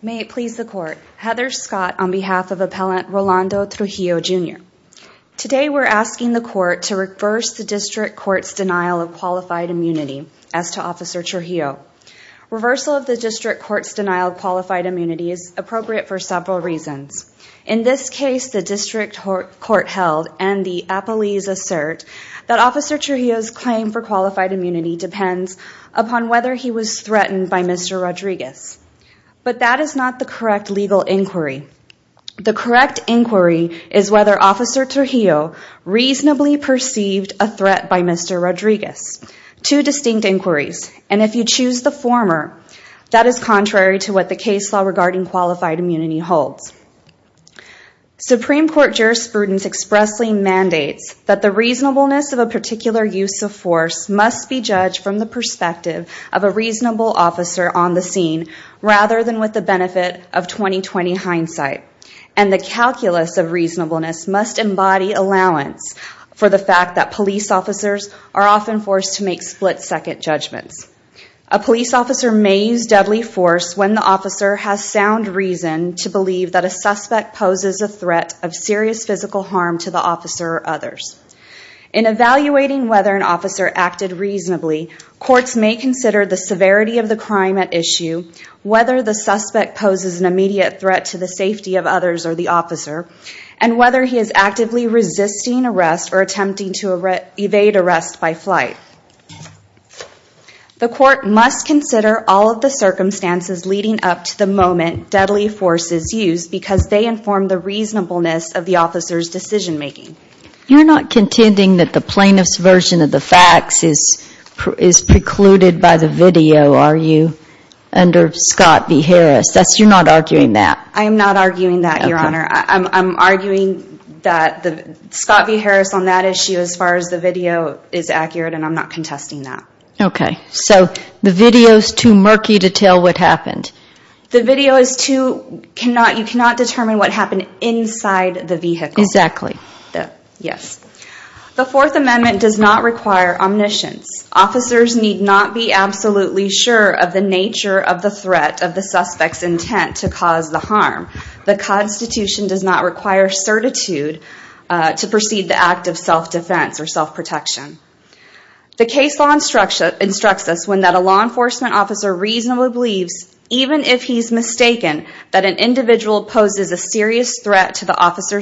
May it please the court. Heather Scott on behalf of Appellant Rolando Trujillo, Jr. Today, we're asking the court to reverse the district court's denial of qualified immunity as to Officer Trujillo. Reversal of the district court's denial of qualified immunity is appropriate for several reasons. In this case, the district court held and the appellees assert that Officer Trujillo's claim for qualified immunity depends upon whether he was threatened by Mr. Rodriguez, but that is not the correct legal inquiry. The correct inquiry is whether Officer Trujillo reasonably perceived a threat by Mr. Rodriguez. Two distinct inquiries, and if you choose the former, that is contrary to what the case law regarding qualified immunity holds. Supreme Court jurisprudence expressly mandates that the reasonableness of a particular use of force must be judged from the perspective of a reasonable officer on the scene rather than with the benefit of 20-20 hindsight, and the calculus of reasonableness must embody allowance for the fact that police officers are often forced to make split-second judgments. A police officer may use deadly force when the officer has sound reason to believe that a suspect poses a threat of or others. In evaluating whether an officer acted reasonably, courts may consider the severity of the crime at issue, whether the suspect poses an immediate threat to the safety of others or the officer, and whether he is actively resisting arrest or attempting to evade arrest by flight. The court must consider all of the circumstances leading up to the moment deadly force is used because they inform the reasonableness of the officer's decision-making. You're not contending that the plaintiff's version of the facts is precluded by the video, are you? Under Scott v. Harris. That's you're not arguing that. I am not arguing that, Your Honor. I'm arguing that the Scott v. Harris on that issue as far as the video is accurate, and I'm not contesting that. Okay, so the video is too murky to tell what happened. The video is too... The Fourth Amendment does not require omniscience. Officers need not be absolutely sure of the nature of the threat of the suspect's intent to cause the harm. The Constitution does not require certitude to proceed the act of self-defense or self-protection. The case law instructs us when that a law enforcement officer reasonably believes, even if he's mistaken, that an individual poses a serious threat to the officer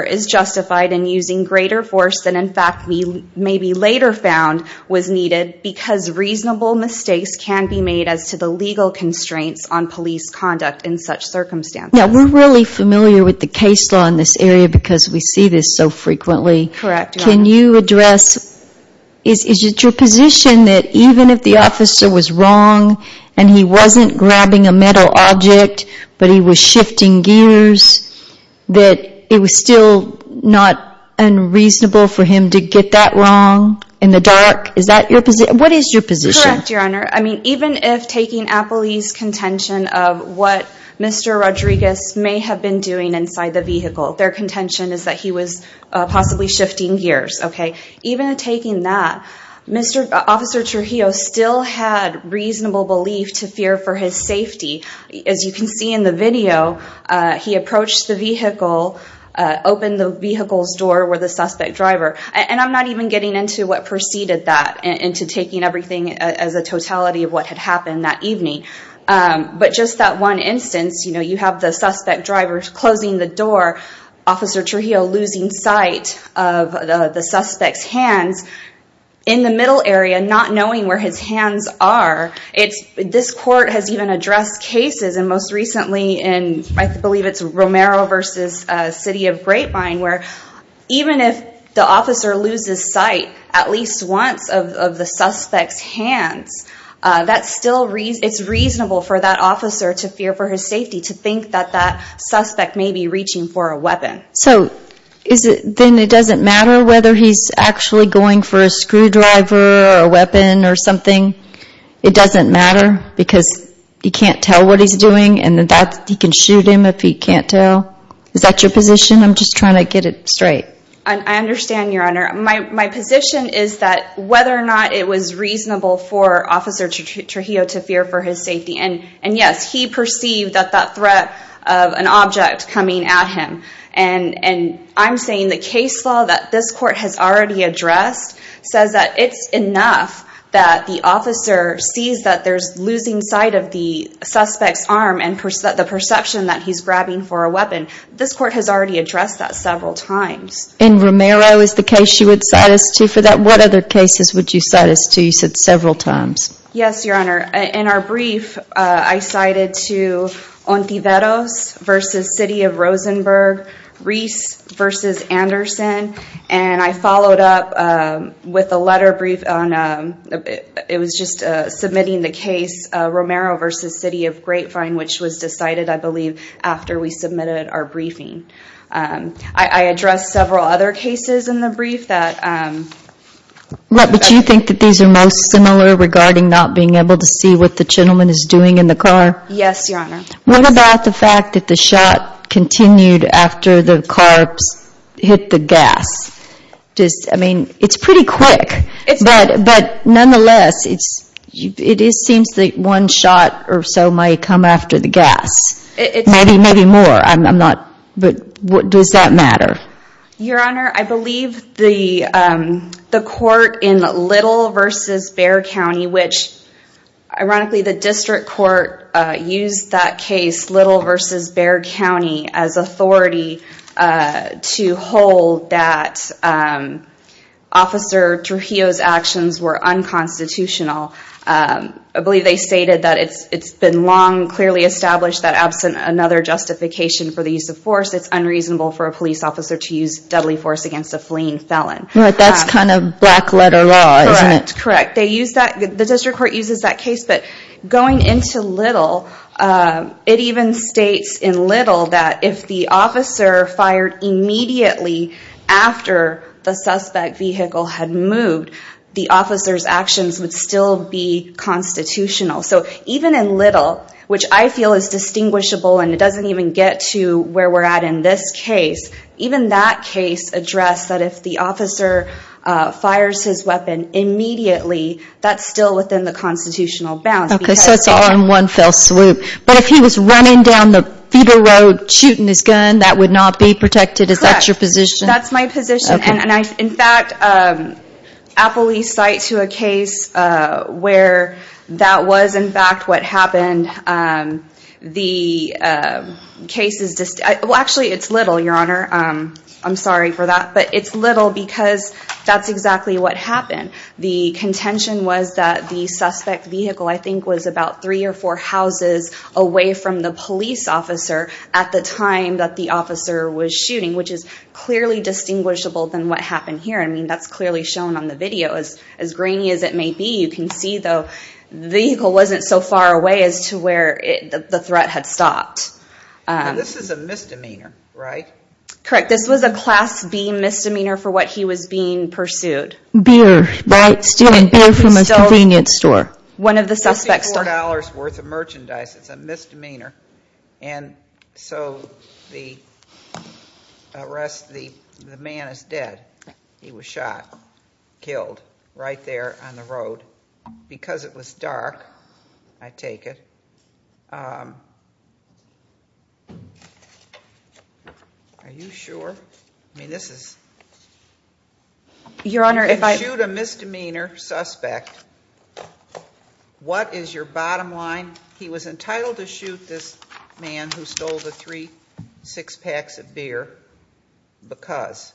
is justified in using greater force than in fact we maybe later found was needed because reasonable mistakes can be made as to the legal constraints on police conduct in such circumstances. Now, we're really familiar with the case law in this area because we see this so frequently. Correct. Can you address... Is it your position that even if the officer was wrong, and he wasn't grabbing a metal object, but he was shifting gears, that it was still not unreasonable for him to get that wrong in the dark? Is that your position? What is your position? Correct, Your Honor. I mean, even if taking Appley's contention of what Mr. Rodriguez may have been doing inside the vehicle, their contention is that he was possibly shifting gears, okay? Even taking that, Mr. Officer Trujillo still had reasonable belief to fear for his safety. As you can see in the video, he approached the vehicle, opened the vehicle's door where the suspect driver, and I'm not even getting into what preceded that, into taking everything as a totality of what had happened that evening. But just that one instance, you know, you have the suspect driver's closing the door, Officer Trujillo losing sight of the suspect's hands in the middle area, not knowing where his hands are. It's, this court has even addressed cases, and most recently in, I believe it's Romero versus City of Grapevine, where even if the officer loses sight at least once of the suspect's hands, that's still, it's reasonable for that officer to fear for his safety, to think that that suspect may be reaching for a weapon. So, is it, then it doesn't matter whether he's actually going for a weapon? It doesn't matter because he can't tell what he's doing, and that he can shoot him if he can't tell? Is that your position? I'm just trying to get it straight. I understand, Your Honor. My position is that whether or not it was reasonable for Officer Trujillo to fear for his safety, and yes, he perceived that that threat of an object coming at him. And I'm saying the case law that this court has already addressed says that it's enough that the officer sees that there's losing sight of the suspect's arm, and that the perception that he's grabbing for a weapon. This court has already addressed that several times. In Romero, is the case you would cite us to for that? What other cases would you cite us to? You said several times. Yes, Your Honor. In our brief, I cited to Ontiveros versus City of Rosenberg, Reese versus Anderson, and I followed up with a letter brief on, it was just submitting the case, Romero versus City of Grapevine, which was decided, I believe, after we submitted our briefing. I addressed several other cases in the brief that... But you think that these are most similar regarding not being able to see what the gentleman is doing in the car? Yes, Your Honor. What about the fact that the shot continued after the carbs hit the gas? I mean, it's pretty quick, but nonetheless, it seems that one shot or so might come after the gas. Maybe more, but does that matter? Your Honor, I believe the court in Little versus Bexar County, which ironically, the district court used that case, Little versus Bexar County, as authority to hold that Officer Trujillo's actions were unconstitutional. I believe they stated that it's been long clearly established that absent another justification for the use of force, it's unreasonable for a police officer to use deadly force against a fleeing felon. That's kind of black letter law, isn't it? Correct. The district court uses that case, but going into Little, it even states in Little that if the officer fired immediately after the suspect vehicle had moved, the officer's actions would still be constitutional. So even in Little, which I feel is distinguishable and it doesn't even get to where we're at in this case, even that case addressed that if the officer fires his weapon immediately, that's still within the constitutional bounds. Okay, so it's all in one fell swoop. But if he was running down the feeder road shooting his gun, that would not be protected. Is that your position? That's my position. In fact, Appleby's cite to a case where that was in fact what happened. The I'm sorry for that, but it's Little because that's exactly what happened. The contention was that the suspect vehicle I think was about three or four houses away from the police officer at the time that the officer was shooting, which is clearly distinguishable than what happened here. I mean, that's clearly shown on the video. As grainy as it may be, you can see though the vehicle wasn't so far away as to where the threat had stopped. This is a misdemeanor, right? Correct. This was a class B misdemeanor for what he was being pursued. Beer. Stealing beer from a convenience store. One of the suspects. $24 worth of merchandise. It's a misdemeanor and so the arrest, the man is dead. He was shot, killed right there on the road. Because it was dark, I take it. Are you sure? I mean, this is... Your Honor, if I... If you shoot a misdemeanor suspect, what is your bottom line? He was entitled to shoot this man who stole the three, six packs of beer because...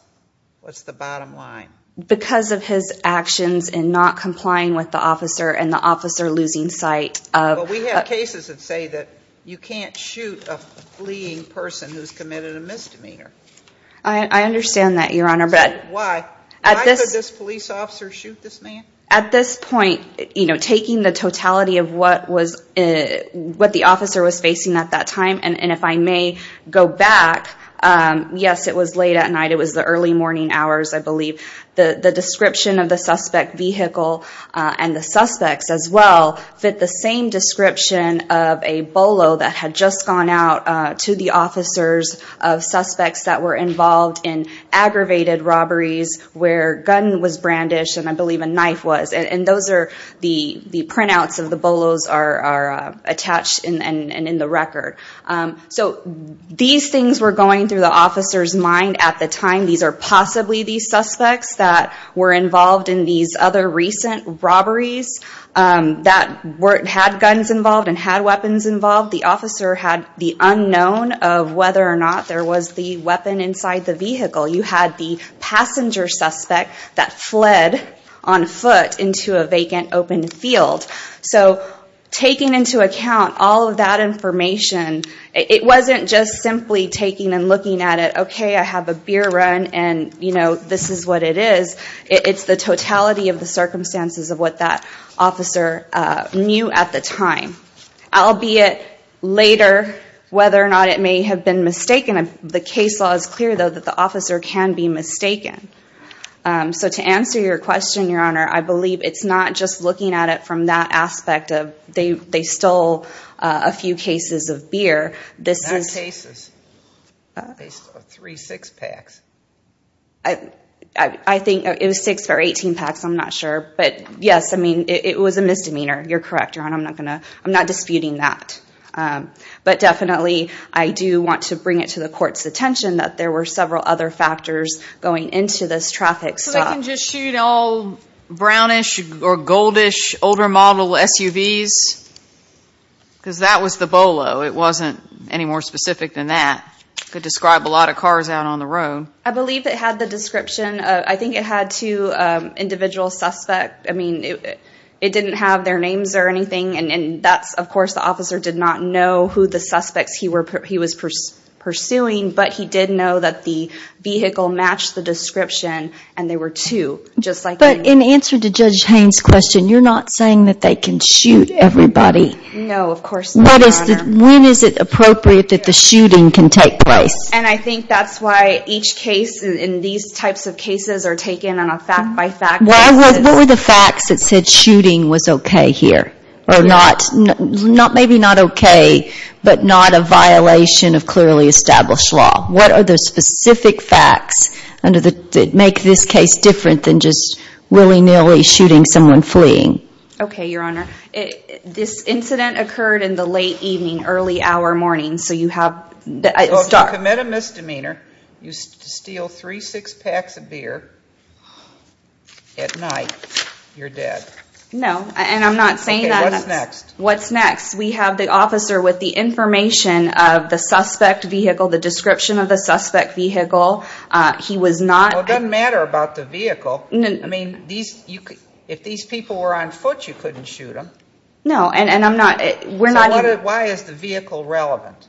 What's the bottom line? Because of his actions and not complying with the officer and the officer losing sight of... We have cases that say that you can't shoot a fleeing person who's committed a misdemeanor. I understand that, Your Honor, but... Why? Why could this police officer shoot this man? At this point, you know, taking the totality of what was what the officer was facing at that time, and if I may go back, yes, it was late at night. It was the early morning hours, I believe. The description of the suspect vehicle and the suspects as well fit the same description of a bolo that had just gone out to the officers of suspects that were involved in aggravated robberies where gun was brandished and I believe a knife was, and those are the printouts of the bolos are attached and in the record. So these things were going through the officer's mind at the time. These are possibly these suspects that were involved in these other recent robberies that weren't... had guns involved and had weapons involved. The officer had the unknown of whether or not there was the weapon inside the vehicle. You had the passenger suspect that fled on foot into a vacant open field. So, taking into account all of that information, it wasn't just simply taking and looking at it. Okay, I have a beer run and you know, this is what it is. It's the totality of the circumstances of what that officer knew at the time. Albeit later, whether or not it may have been mistaken. The case law is clear though that the officer can be mistaken. So to answer your question, Your Honor, I believe it's not just looking at it from that aspect of they stole a few cases of beer. This is... That case is... 3, 6 packs. I think it was 6 or 18 packs. I'm not sure. But yes, I mean it was a misdemeanor. You're correct, Your Honor. I'm not gonna... I'm not disputing that. But definitely, I do want to bring it to the court's attention that there were several other factors going into this traffic stop. So we can just shoot all brownish or goldish older model SUVs? Because that was the Bolo. It wasn't any more specific than that. Could describe a lot of cars out on the road. I believe it had the description. I think it had two individual suspects. I mean, it didn't have their names or anything. And that's, of course, the officer did not know who the suspects he was pursuing. But he did know that the vehicle matched the description and they were two just like... But in answer to Judge Haines' question, you're not saying that they can shoot everybody? No, of course not, Your Honor. When is it appropriate that the shooting can take place? And I think that's why each case in these types of cases are taken on a fact-by-fact basis. What were the facts that said shooting was okay here or not? Maybe not okay, but not a violation of clearly established law. What are the specific facts that make this case different than just willy-nilly shooting someone fleeing? Okay, Your Honor. This incident occurred in the late evening, early hour morning. So you have... So if you commit a misdemeanor, you steal three six-packs of beer at night, you're dead. No, and I'm not saying that... What's next? What's next? We have the officer with the information of the suspect vehicle, the description of the suspect vehicle. He was not... Well, it doesn't matter about the vehicle. I mean, if these people were on foot, you couldn't shoot them. No, and I'm not... We're not... Why is the vehicle relevant?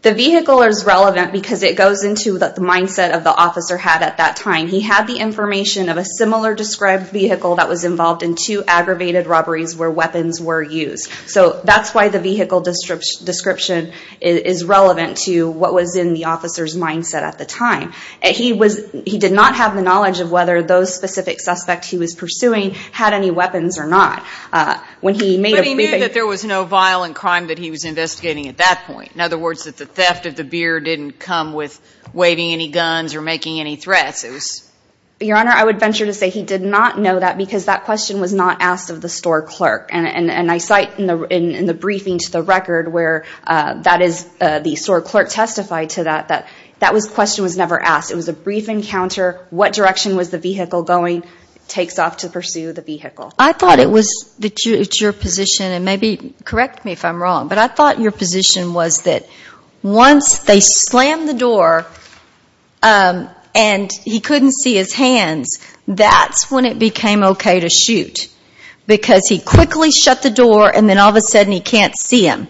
The vehicle is relevant because it goes into that the mindset of the officer had at that time. He had the information of a similar described vehicle that was involved in two aggravated robberies where weapons were used. So that's why the vehicle description is relevant to what was in the officer's mindset at the time. He did not have the knowledge of whether those specific suspects he was pursuing had any weapons or not. When he made... But he knew that there was no violent crime that he was investigating at that point. In other words, that the theft of the beer didn't come with waving any guns or making any threats. It was... Your Honor, I would venture to say he did not know that because that question was not asked of the store clerk. And I cite in the briefing to the record where that is the store clerk testified to that, that that was question was never asked. It was a brief encounter. What direction was the vehicle going? Takes off to pursue the vehicle. I thought it was that your position and maybe correct me if I'm wrong, but I thought your position was that once they slammed the door and he couldn't see his hands, that's when it became okay to shoot. Because he quickly shut the door and then all of a sudden he can't see him.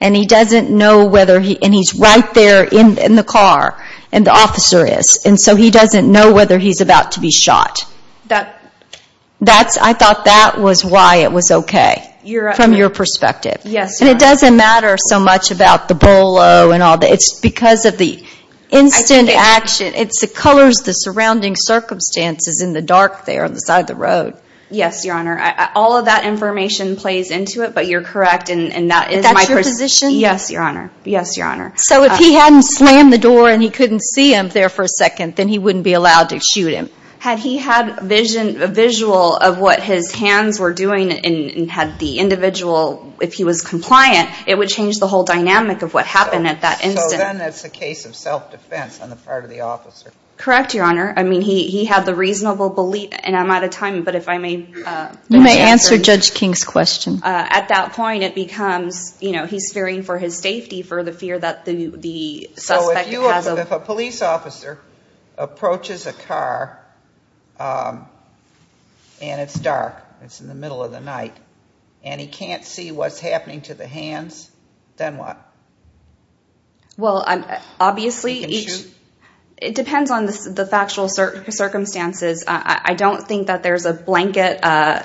And he doesn't know whether he... And he's right there in the car and the officer is. And so he doesn't know whether he's about to be shot. That's... I thought that was why it was okay from your perspective. Yes, Your Honor. And it doesn't matter so much about the bolo and all that. It's because of the instant action. It's the colors, the surrounding circumstances in the dark there on the side of the road. Yes, Your Honor. All of that information plays into it, but you're correct. And that is my position. Yes, Your Honor. Yes, Your Honor. So if he hadn't slammed the door and he couldn't see him there for a second, then he wouldn't be allowed to shoot him. Had he had a visual of what his hands were doing and had the individual... If he was compliant, it would change the whole dynamic of what happened at that instant. So then it's a case of self-defense on the part of the officer. Correct, Your Honor. I mean, he had the reasonable belief... And I'm out of time, but if I may... You may answer Judge King's question. At that point, it becomes, you know, he's fearing for his safety for the fear that the suspect has... And it's dark. It's in the middle of the night. And he can't see what's happening to the hands, then what? Well, obviously, it depends on the factual circumstances. I don't think that there's a blanket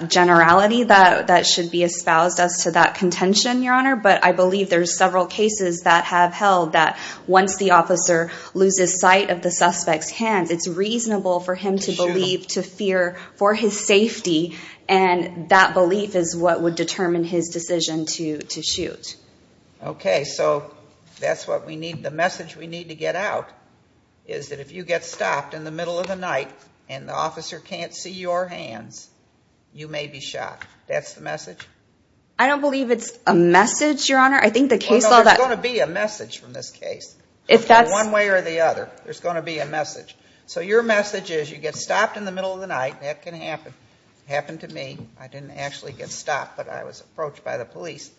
generality that should be espoused as to that contention, Your Honor. But I believe there's several cases that have held that once the officer loses sight of the suspect's hands, it's reasonable for him to believe, to fear for his safety. And that belief is what would determine his decision to shoot. Okay, so that's what we need. The message we need to get out is that if you get stopped in the middle of the night and the officer can't see your hands, you may be shot. That's the message? I don't believe it's a message, Your Honor. I think the case... So your message is you get stopped in the middle of the night, that can happen. Happened to me. I didn't actually get stopped, but I was approached by the police.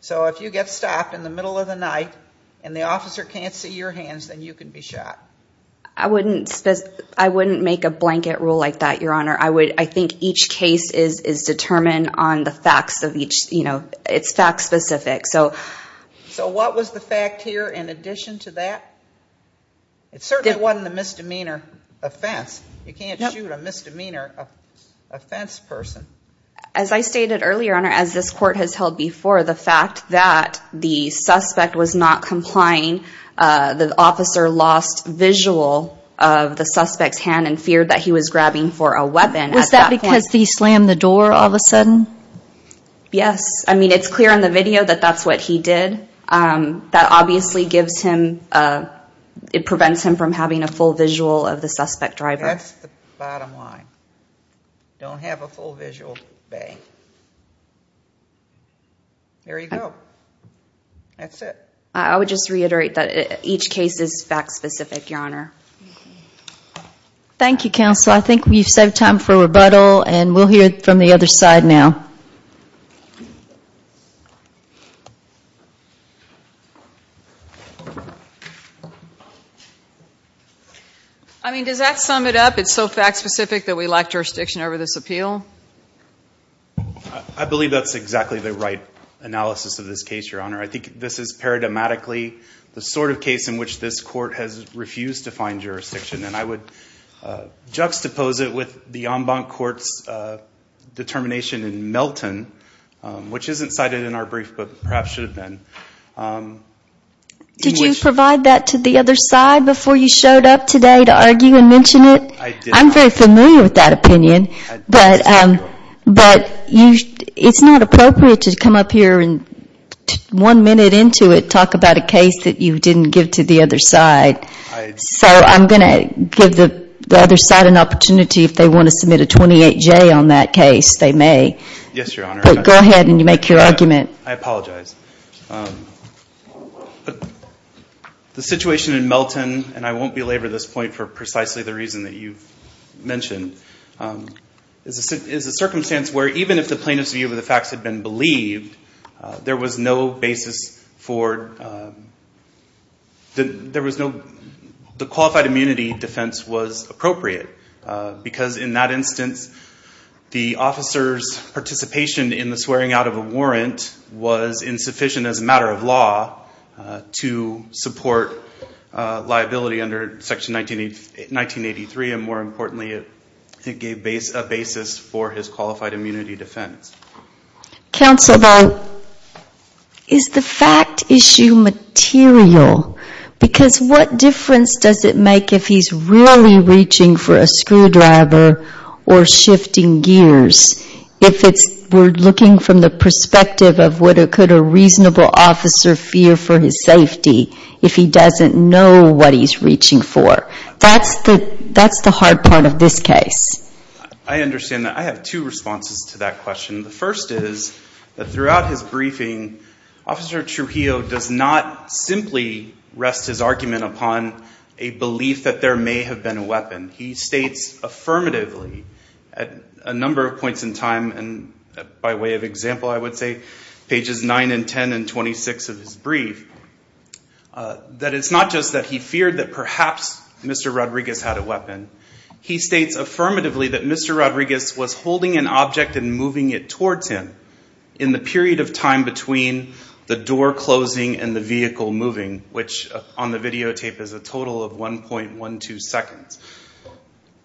So if you get stopped in the middle of the night and the officer can't see your hands, then you can be shot. I wouldn't make a blanket rule like that, Your Honor. I think each case is determined on the facts of each, you know, it's fact specific. So what was the fact here in addition to that? It certainly wasn't a misdemeanor offense. You can't shoot a misdemeanor offense person. As I stated earlier, Your Honor, as this court has held before, the fact that the suspect was not complying, the officer lost visual of the suspect's hand and feared that he was grabbing for a weapon. Was that because he slammed the door all of a sudden? Yes. I mean, it's clear in the video that that's what he did. That obviously gives him, it prevents him from having a full visual of the suspect driver. That's the bottom line. Don't have a full visual. There you go. That's it. I would just reiterate that each case is fact specific, Your Honor. Thank you, Counsel. I think we've saved time for rebuttal and we'll hear from the other side now. I mean, does that sum it up? It's so fact specific that we lack jurisdiction over this appeal? I believe that's exactly the right analysis of this case, Your Honor. I think this is paradigmatically the sort of case in which this court has refused to find jurisdiction. And I would juxtapose it with the en banc court's determination in Melton, which isn't cited in our brief, but perhaps should have been. Did you provide that to the other side before you showed up today to argue and mention it? I'm very familiar with that opinion, but it's not appropriate to come up here and one minute into it talk about a case that you didn't give to the other side. So I'm going to give the other side an opportunity if they want to submit a 28-J on that case, they may. Yes, Your Honor. But go ahead and make your argument. I apologize. The situation in Melton, and I won't belabor this point for precisely the reason that you've mentioned, is a circumstance where even if the plaintiff's view of the facts had been believed, there was no basis for – the qualified immunity defense was appropriate because in that instance, the officer's participation in the swearing out of a warrant was insufficient as a matter of law to support liability under Section 1983. And more importantly, it gave a basis for his qualified immunity defense. Counsel, though, is the fact issue material? Because what difference does it make if he's really reaching for a screwdriver or shifting gears if we're looking from the perspective of what could a reasonable officer fear for his safety if he doesn't know what he's reaching for? That's the hard part of this case. I understand that. I have two responses to that question. The first is that throughout his briefing, Officer Trujillo does not simply rest his argument upon a belief that there may have been a weapon. He states affirmatively at a number of points in time, and by way of example, I would say, pages 9 and 10 and 26 of his brief, that it's not just that he feared that perhaps Mr. Rodriguez had a weapon. He states affirmatively that Mr. Rodriguez was holding an object and moving it towards him in the period of time between the door closing and the vehicle moving, which on the videotape is a total of 1.12 seconds.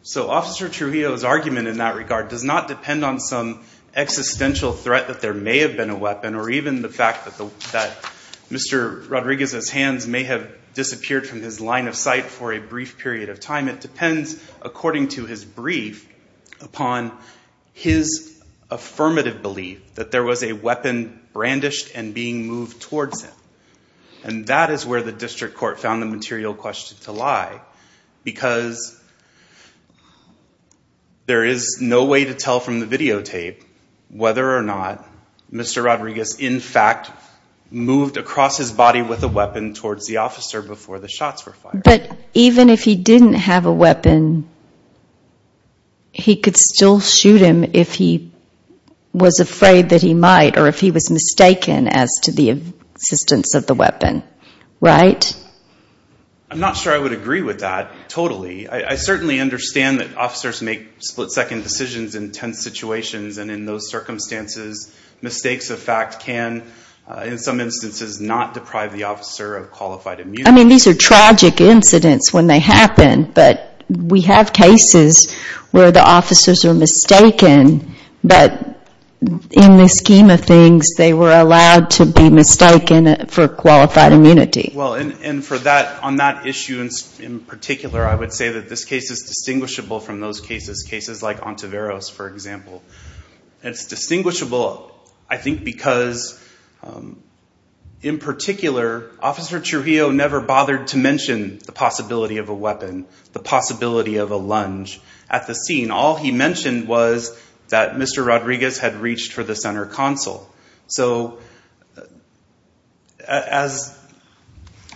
So Officer Trujillo's argument in that regard does not depend on some existential threat that there may have been a weapon or even the fact that Mr. Rodriguez's hands may have disappeared from his line of sight for a brief period of time. It depends, according to his brief, upon his affirmative belief that there was a weapon brandished and being moved towards him. And that is where the district court found the material question to lie because there is no way to tell from the videotape whether or not Mr. Rodriguez in fact moved across his body with a weapon towards the officer before the shots were fired. But even if he didn't have a weapon, he could still shoot him if he was afraid that he might or if he was mistaken as to the existence of the weapon, right? I'm not sure I would agree with that totally. I certainly understand that officers make split-second decisions in tense situations, and in those circumstances, mistakes of fact can, in some instances, not deprive the officer of qualified immunity. I mean, these are tragic incidents when they happen, but we have cases where the officers are mistaken, but in the scheme of things, they were allowed to be mistaken for qualified immunity. Well, and for that, on that issue in particular, I would say that this case is distinguishable from those cases, cases like Ontiveros, for example. It's distinguishable, I think, because in particular, Officer Trujillo never bothered to mention the possibility of a weapon, the possibility of a lunge at the scene. All he mentioned was that Mr. Rodriguez had reached for the center console. So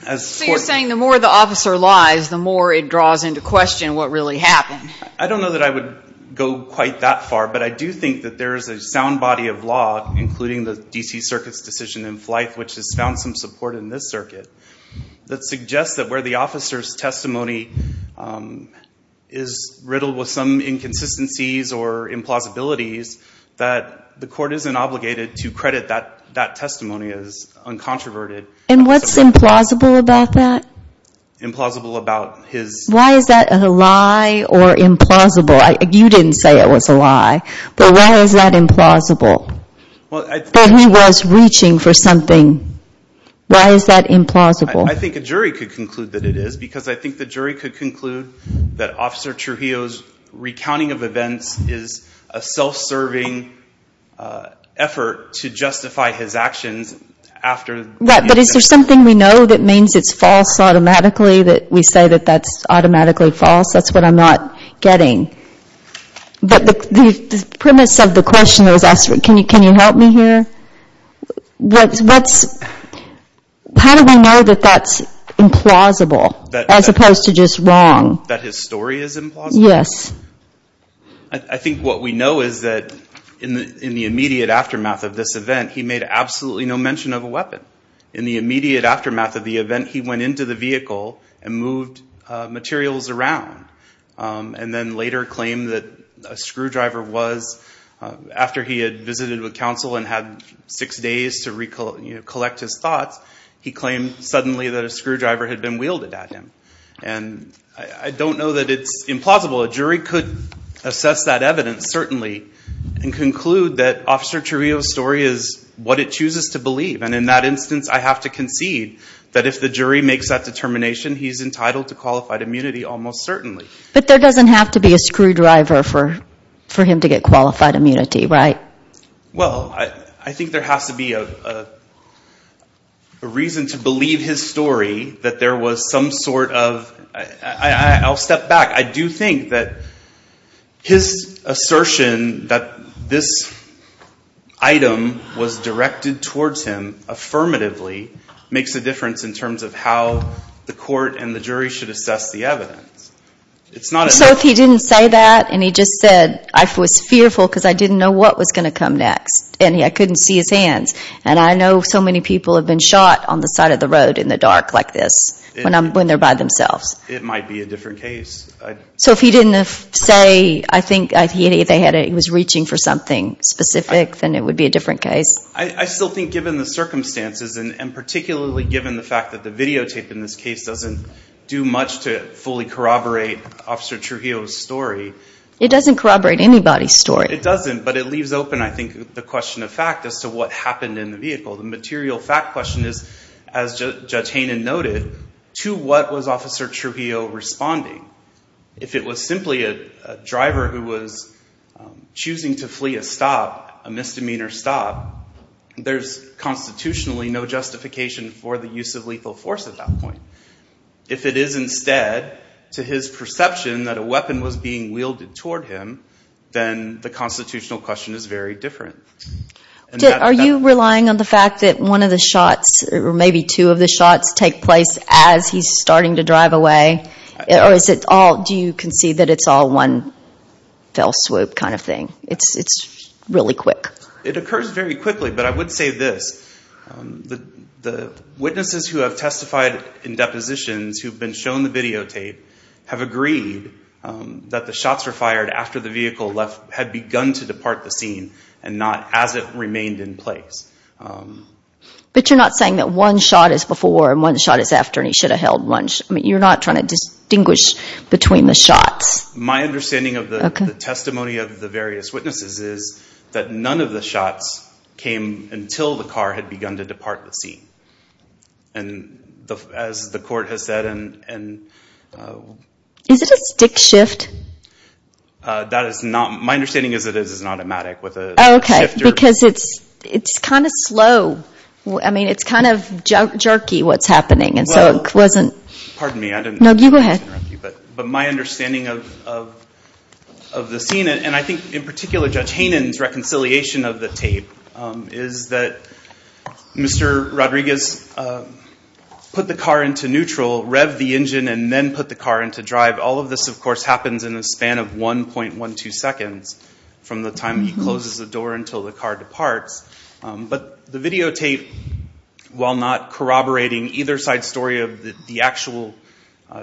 you're saying the more the officer lies, the more it draws into question what really happened. I don't know that I would go quite that far, but I do think that there is a sound body of law, including the D.C. Circuit's decision in Fife, which has found some support in this circuit, that suggests that where the officer's testimony is riddled with some inconsistencies or implausibilities, that the court isn't obligated to credit that testimony as uncontroverted. And what's implausible about that? Implausible about his... Why is that a lie or implausible? You didn't say it was a lie, but why is that implausible? That he was reaching for something. Why is that implausible? I think a jury could conclude that it is, because I think the jury could conclude that Officer Trujillo's recounting of events is a self-serving effort to justify his actions after... But is there something we know that means it's false automatically, that we say that that's automatically false? That's what I'm not getting. But the premise of the question that was asked, can you help me here? How do we know that that's implausible as opposed to just wrong? That his story is implausible? Yes. I think what we know is that in the immediate aftermath of this event, he made absolutely no mention of a weapon. In the immediate aftermath of the event, he went into the vehicle and moved materials around and then later claimed that a screwdriver was... After he had visited with counsel and had six days to collect his thoughts, he claimed suddenly that a screwdriver had been wielded at him. And I don't know that it's implausible. A jury could assess that evidence, certainly, and conclude that Officer Trujillo's story is what it chooses to believe. And in that instance, I have to concede that if the jury makes that determination, he's entitled to qualified immunity almost certainly. But there doesn't have to be a screwdriver for him to get qualified immunity, right? Well, I think there has to be a reason to believe his story that there was some sort of... I'll step back. I do think that his assertion that this item was directed towards him affirmatively makes a difference in terms of how the court and the jury should assess the evidence. It's not enough... And I couldn't see his hands. And I know so many people have been shot on the side of the road in the dark like this when they're by themselves. It might be a different case. So if he didn't say I think he was reaching for something specific, then it would be a different case? I still think given the circumstances and particularly given the fact that the videotape in this case doesn't do much to fully corroborate Officer Trujillo's story... It doesn't corroborate anybody's story. It doesn't, but it leaves open I think the question of fact as to what happened in the vehicle. The material fact question is, as Judge Hainan noted, to what was Officer Trujillo responding? If it was simply a driver who was choosing to flee a stop, a misdemeanor stop, there's constitutionally no justification for the use of lethal force at that point. If it is instead to his perception that a weapon was being wielded toward him, then the constitutional question is very different. Are you relying on the fact that one of the shots, or maybe two of the shots, take place as he's starting to drive away? Or do you concede that it's all one fell swoop kind of thing? It's really quick. It occurs very quickly, but I would say this. The witnesses who have testified in depositions who've been shown the videotape have agreed that the shots were fired after the vehicle had begun to depart the scene and not as it remained in place. But you're not saying that one shot is before and one shot is after and he should have held one? You're not trying to distinguish between the shots? My understanding of the testimony of the various witnesses is that none of the shots came until the car had begun to depart the scene. And as the court has said and... Is it a stick shift? My understanding is that it is an automatic with a shifter. Oh, okay, because it's kind of slow. I mean, it's kind of jerky what's happening, and so it wasn't... Well, pardon me, I didn't mean to interrupt you. No, you go ahead. But my understanding of the scene, and I think in particular Judge Haynen's reconciliation of the tape, is that Mr. Rodriguez put the car into neutral, revved the engine, and then put the car into drive. All of this, of course, happens in a span of 1.12 seconds from the time he closes the door until the car departs. But the videotape, while not corroborating either side's story of the actual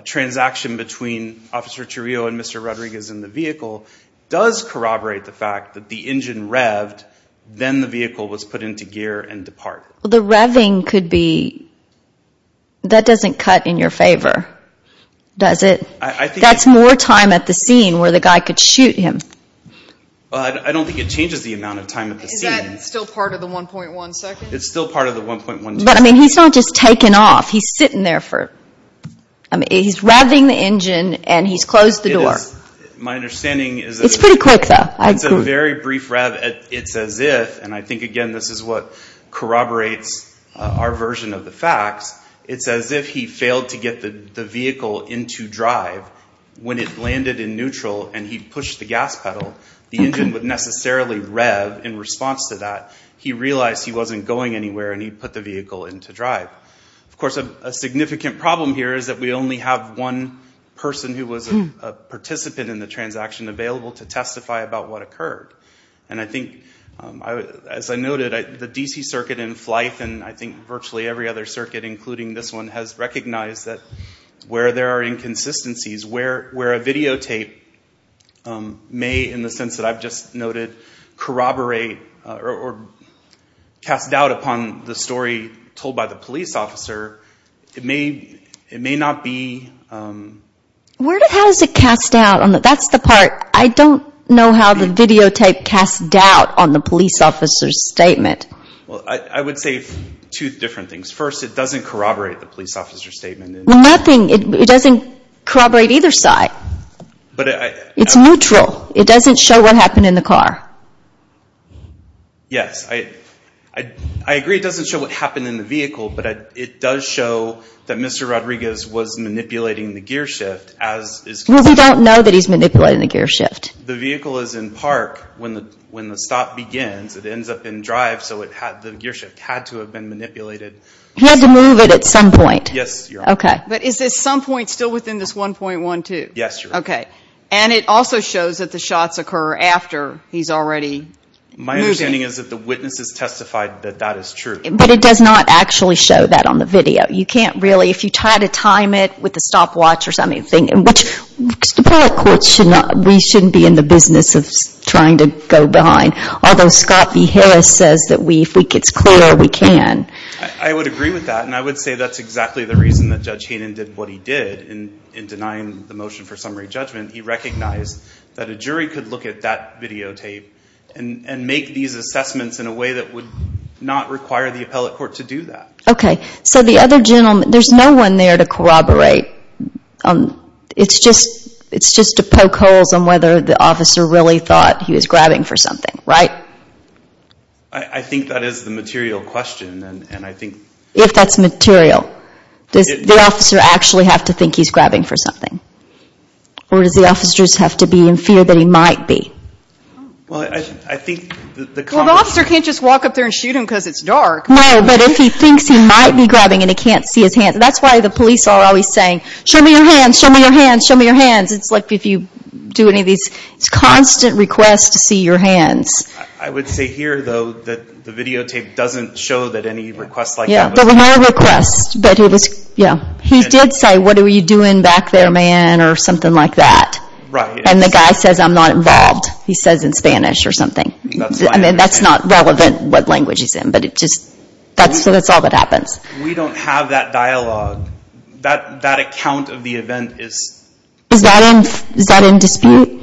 transaction between Officer Trujillo and Mr. Rodriguez in the vehicle, does corroborate the fact that the engine revved, then the vehicle was put into gear and departed. Well, the revving could be... That doesn't cut in your favor, does it? That's more time at the scene where the guy could shoot him. Well, I don't think it changes the amount of time at the scene. Is that still part of the 1.1 seconds? It's still part of the 1.1 seconds. But, I mean, he's not just taking off. He's sitting there for... I mean, he's revving the engine, and he's closed the door. It's pretty quick, though. It's a very brief rev. It's as if, and I think, again, this is what corroborates our version of the facts, it's as if he failed to get the vehicle into drive when it landed in neutral, and he pushed the gas pedal. The engine would necessarily rev in response to that. He realized he wasn't going anywhere, and he put the vehicle into drive. Of course, a significant problem here is that we only have one person who was a participant in the transaction available to testify about what occurred. And I think, as I noted, the D.C. Circuit in Flife, and I think virtually every other circuit, including this one, has recognized that where there are inconsistencies, where a videotape may, in the sense that I've just noted, corroborate or cast doubt upon the story told by the police officer, it may not be... How does it cast doubt? That's the part. I don't know how the videotape casts doubt on the police officer's statement. Well, I would say two different things. First, it doesn't corroborate the police officer's statement. Nothing. It doesn't corroborate either side. It's neutral. It doesn't show what happened in the car. Yes. I agree it doesn't show what happened in the vehicle, but it does show that Mr. Rodriguez was manipulating the gearshift. Well, we don't know that he's manipulating the gearshift. The vehicle is in park when the stop begins. It ends up in drive, so the gearshift had to have been manipulated. Yes, Your Honor. Okay. But is this some point still within this 1.12? Yes, Your Honor. Okay. And it also shows that the shots occur after he's already moving. My understanding is that the witnesses testified that that is true. But it does not actually show that on the video. You can't really, if you try to time it with the stopwatch or something, which the public courts should not, we shouldn't be in the business of trying to go behind, although Scott B. Harris says that if it gets clear, we can. I would agree with that, and I would say that's exactly the reason that Judge Hayden did what he did in denying the motion for summary judgment. He recognized that a jury could look at that videotape and make these assessments in a way that would not require the appellate court to do that. Okay. So the other gentleman, there's no one there to corroborate. It's just to poke holes on whether the officer really thought he was grabbing for something, right? I think that is the material question. If that's material, does the officer actually have to think he's grabbing for something? Or does the officer just have to be in fear that he might be? Well, the officer can't just walk up there and shoot him because it's dark. No, but if he thinks he might be grabbing and he can't see his hands. That's why the police are always saying, show me your hands, show me your hands, show me your hands. It's like if you do any of these constant requests to see your hands. I would say here, though, that the videotape doesn't show that any requests like that. There were no requests, but he did say, what were you doing back there, man? Or something like that. And the guy says, I'm not involved. He says in Spanish or something. I mean, that's not relevant what language he's in, but that's all that happens. We don't have that dialogue. That account of the event is. Is that in dispute?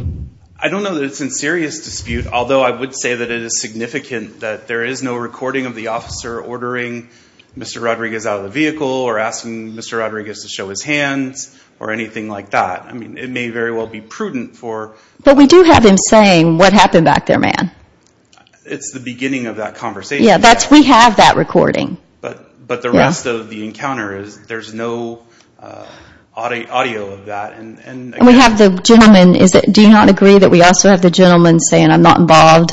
I don't know that it's in serious dispute. Although I would say that it is significant that there is no recording of the officer ordering Mr. Rodriguez out of the vehicle. Or asking Mr. Rodriguez to show his hands or anything like that. I mean, it may very well be prudent for. But we do have him saying, what happened back there, man? It's the beginning of that conversation. Yeah, we have that recording. But the rest of the encounter is, there's no audio of that. And we have the gentleman. Do you not agree that we also have the gentleman saying, I'm not involved,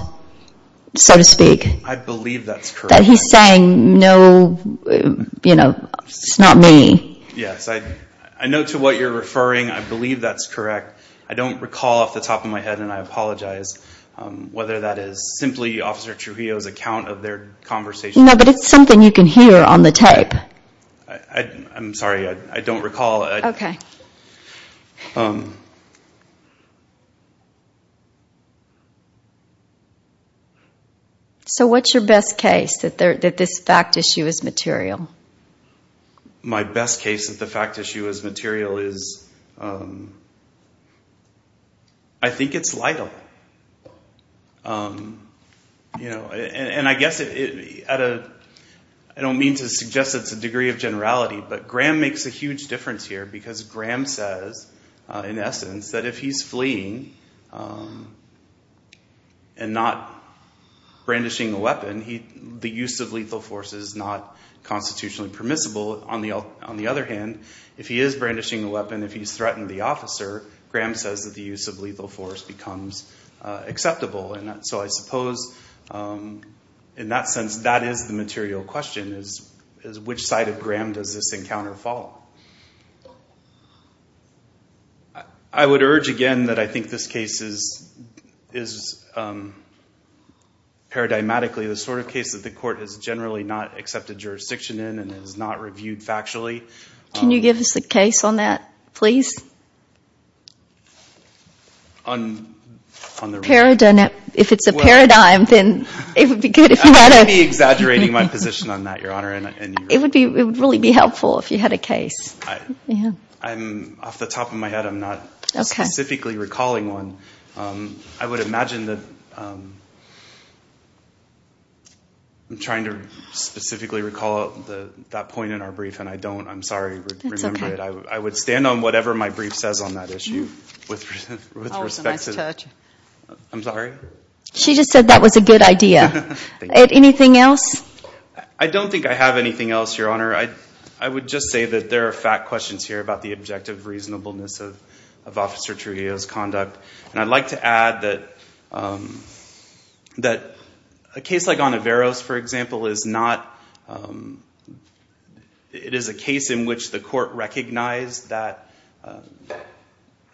so to speak? I believe that's correct. That he's saying, no, you know, it's not me. Yes, I know to what you're referring. I believe that's correct. I don't recall off the top of my head, and I apologize, whether that is simply Officer Trujillo's account of their conversation. No, but it's something you can hear on the tape. I'm sorry, I don't recall. Okay. So what's your best case that this fact issue is material? My best case that the fact issue is material is, I think it's Lytle. And I guess, I don't mean to suggest it's a degree of generality, but Graham makes a huge difference here. Because Graham says, in essence, that if he's fleeing and not brandishing a weapon, the use of lethal force is not constitutionally permissible. On the other hand, if he is brandishing a weapon, if he's threatened the officer, Graham says that the use of lethal force becomes acceptable. And so I suppose, in that sense, that is the material question, is which side of Graham does this encounter fall? I would urge, again, that I think this case is paradigmatically the sort of case that the court has generally not accepted jurisdiction in and has not reviewed factually. Can you give us a case on that, please? If it's a paradigm, then it would be good if you had a... I might be exaggerating my position on that, Your Honor. It would really be helpful if you had a case. Off the top of my head, I'm not specifically recalling one. I would imagine that... I'm trying to specifically recall that point in our brief, and I don't. I'm sorry. That's okay. I would stand on whatever my brief says on that issue with respect to... That was a nice touch. I'm sorry? She just said that was a good idea. Anything else? I don't think I have anything else, Your Honor. I would just say that there are fact questions here about the objective reasonableness of Officer Trujillo's conduct. And I'd like to add that a case like Onoveros, for example, is not... It is a case in which the court recognized that...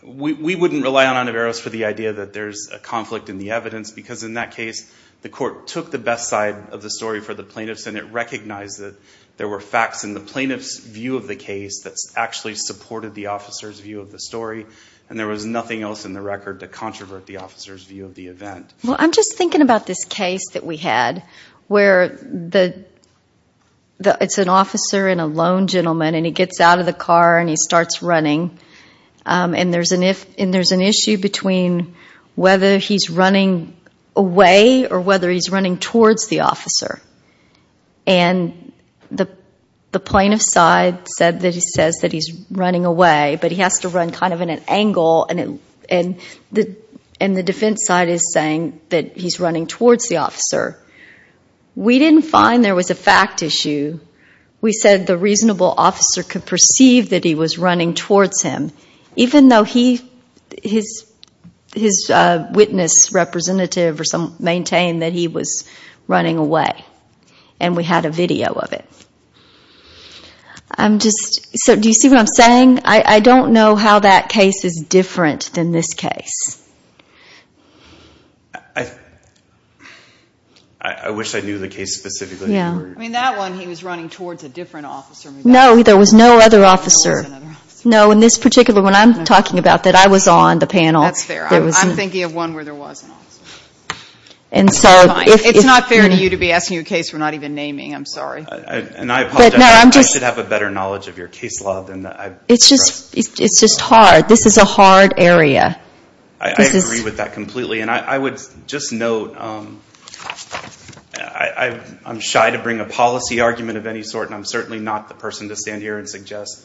We wouldn't rely on Onoveros for the idea that there's a conflict in the evidence, because in that case, the court took the best side of the story for the plaintiffs, and it recognized that there were facts in the plaintiff's view of the case that actually supported the officer's view of the story, and there was nothing else in the record to controvert the officer's view of the event. I'm just thinking about this case that we had where it's an officer and a lone gentleman, and he gets out of the car and he starts running, and there's an issue between whether he's running away or whether he's running towards the officer. And the plaintiff's side says that he's running away, but he has to run kind of at an angle, and the defense side is saying that he's running towards the officer. We didn't find there was a fact issue. We said the reasonable officer could perceive that he was running towards him, even though his witness representative maintained that he was running away, and we had a video of it. Do you see what I'm saying? I don't know how that case is different than this case. I wish I knew the case specifically. I mean, that one he was running towards a different officer. No, there was no other officer. No, in this particular one I'm talking about that I was on the panel. That's fair. I'm thinking of one where there was an officer. It's not fair to you to be asking a case we're not even naming. I'm sorry. And I apologize. I should have a better knowledge of your case law than that. It's just hard. This is a hard area. I agree with that completely, and I would just note, I'm shy to bring a policy argument of any sort, and I'm certainly not the person to stand here and suggest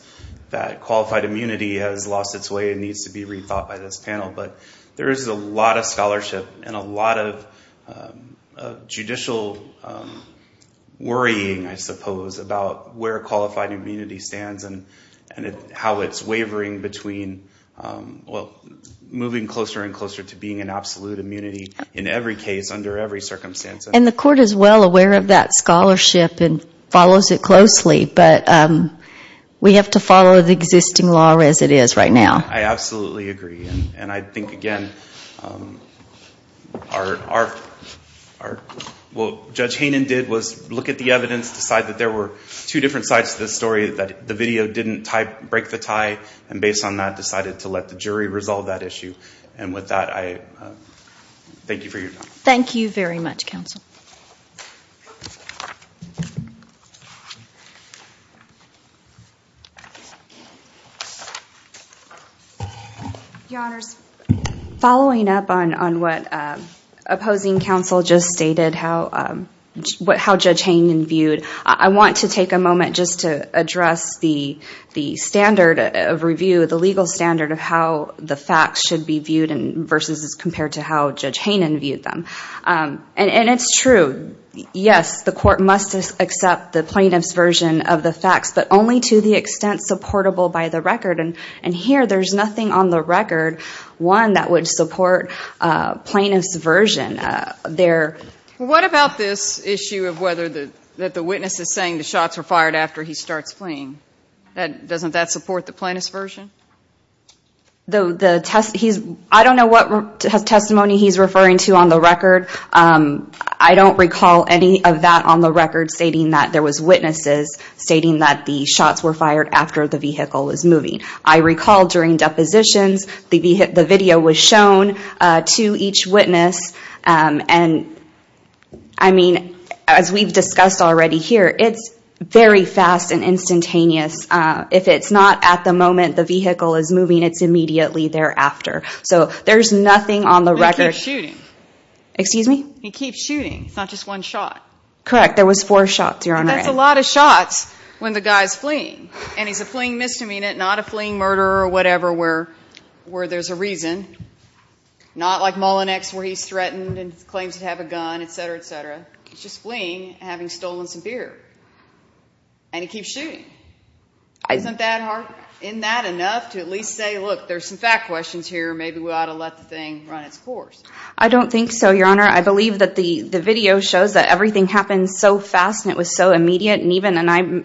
that qualified immunity has lost its way and needs to be rethought by this panel. But there is a lot of scholarship and a lot of judicial worrying, I suppose, about where qualified immunity stands and how it's wavering between moving closer and closer to being an absolute immunity. In every case, under every circumstance. And the court is well aware of that scholarship and follows it closely, but we have to follow the existing law as it is right now. I absolutely agree. And I think, again, what Judge Haynen did was look at the evidence, decide that there were two different sides to this story, that the video didn't break the tie, and based on that decided to let the jury resolve that issue. And with that, I thank you for your time. Thank you very much, counsel. Your Honors, following up on what opposing counsel just stated, how Judge Haynen viewed, I want to take a moment just to address the standard of review, the legal standard of how the facts should be viewed versus as compared to how Judge Haynen viewed them. And it's true, yes, the court must accept the plaintiff's version of the facts, but only to the extent supportable by the record. And here there's nothing on the record, one, that would support plaintiff's version. What about this issue of whether the witness is saying the shots were fired after he starts fleeing? Doesn't that support the plaintiff's version? I don't know what testimony he's referring to on the record. I don't recall any of that on the record stating that there was witnesses stating that the shots were fired after the vehicle was moving. I recall during depositions the video was shown to each witness. And, I mean, as we've discussed already here, it's very fast and instantaneous. If it's not at the moment the vehicle is moving, it's immediately thereafter. So there's nothing on the record. He keeps shooting. Excuse me? He keeps shooting. It's not just one shot. Correct. There was four shots, Your Honor. And that's a lot of shots when the guy's fleeing. And he's a fleeing misdemeanor, not a fleeing murderer or whatever where there's a reason. Not like Mullinex where he's threatened and claims to have a gun, et cetera, et cetera. He's just fleeing, having stolen some beer. And he keeps shooting. Isn't that enough to at least say, look, there's some fact questions here. Maybe we ought to let the thing run its course. I don't think so, Your Honor. I believe that the video shows that everything happened so fast and it was so immediate. And I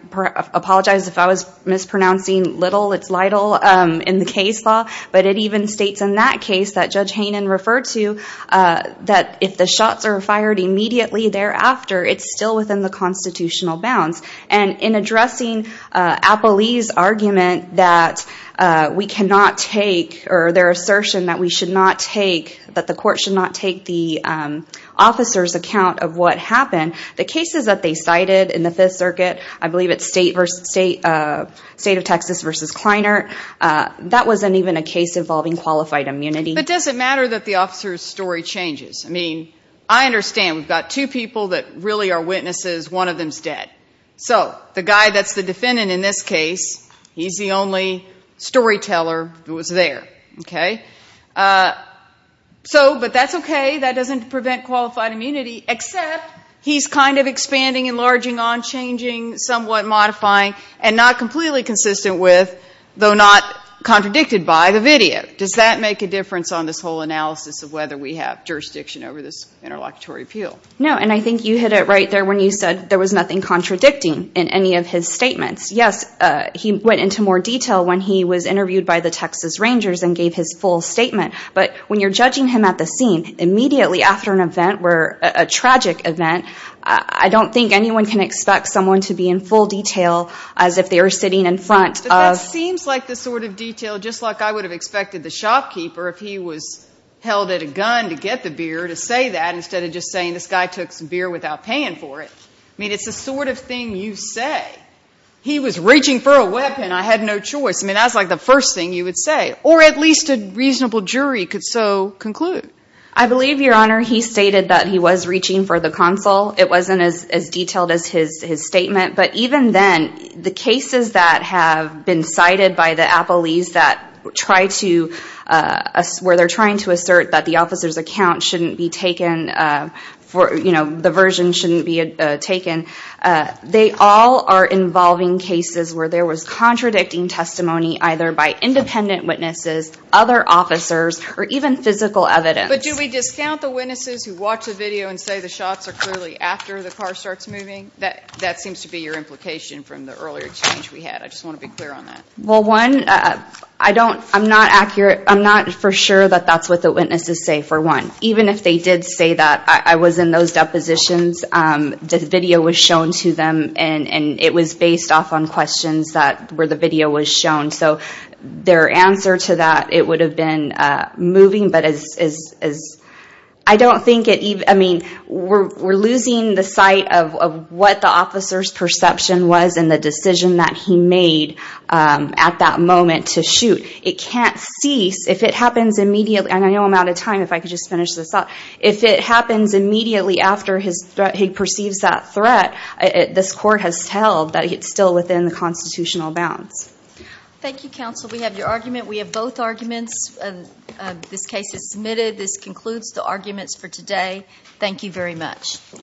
apologize if I was mispronouncing little. It's little in the case law. But it even states in that case that Judge Hainan referred to that if the shots are fired immediately thereafter, it's still within the constitutional bounds. And in addressing Apolli's argument that we cannot take or their assertion that we should not take, that the court should not take the officer's account of what happened, the cases that they cited in the Fifth Circuit, I believe it's State of Texas versus Kleiner, that wasn't even a case involving qualified immunity. But does it matter that the officer's story changes? I mean, I understand we've got two people that really are witnesses. One of them is dead. So the guy that's the defendant in this case, he's the only storyteller who was there. So, but that's okay, that doesn't prevent qualified immunity, except he's kind of expanding, enlarging, on-changing, somewhat modifying, and not completely consistent with, though not contradicted by, the video. Does that make a difference on this whole analysis of whether we have jurisdiction over this interlocutory appeal? No, and I think you hit it right there when you said there was nothing contradicting in any of his statements. Yes, he went into more detail when he was interviewed by the Texas Rangers and gave his full statement. But when you're judging him at the scene, immediately after an event where, a tragic event, I don't think anyone can expect someone to be in full detail as if they were sitting in front of. But that seems like the sort of detail, just like I would have expected the shopkeeper, if he was held at a gun to get the beer, to say that, instead of just saying this guy took some beer without paying for it. I mean, it's the sort of thing you say. He was reaching for a weapon. I had no choice. I mean, that's like the first thing you would say. Or at least a reasonable jury could so conclude. I believe, Your Honor, he stated that he was reaching for the console. It wasn't as detailed as his statement. But even then, the cases that have been cited by the appellees that try to, where they're trying to assert that the officer's account shouldn't be taken for, you know, the version shouldn't be taken, they all are involving cases where there was contradicting testimony, either by independent witnesses, other officers, or even physical evidence. But do we discount the witnesses who watch the video and say the shots are clearly after the car starts moving? That seems to be your implication from the earlier change we had. I just want to be clear on that. Well, one, I don't, I'm not accurate. I'm not for sure that that's what the witnesses say, for one. Even if they did say that I was in those depositions, the video was shown to them, and it was based off on questions where the video was shown. So their answer to that, it would have been moving. But as, I don't think it, I mean, we're losing the sight of what the officer's perception was and the decision that he made at that moment to shoot. It can't cease. If it happens immediately, and I know I'm out of time, if I could just finish this up. If it happens immediately after he perceives that threat, this court has held that it's still within the constitutional bounds. Thank you, counsel. We have your argument. We have both arguments. This case is submitted. This concludes the arguments for today. Thank you very much.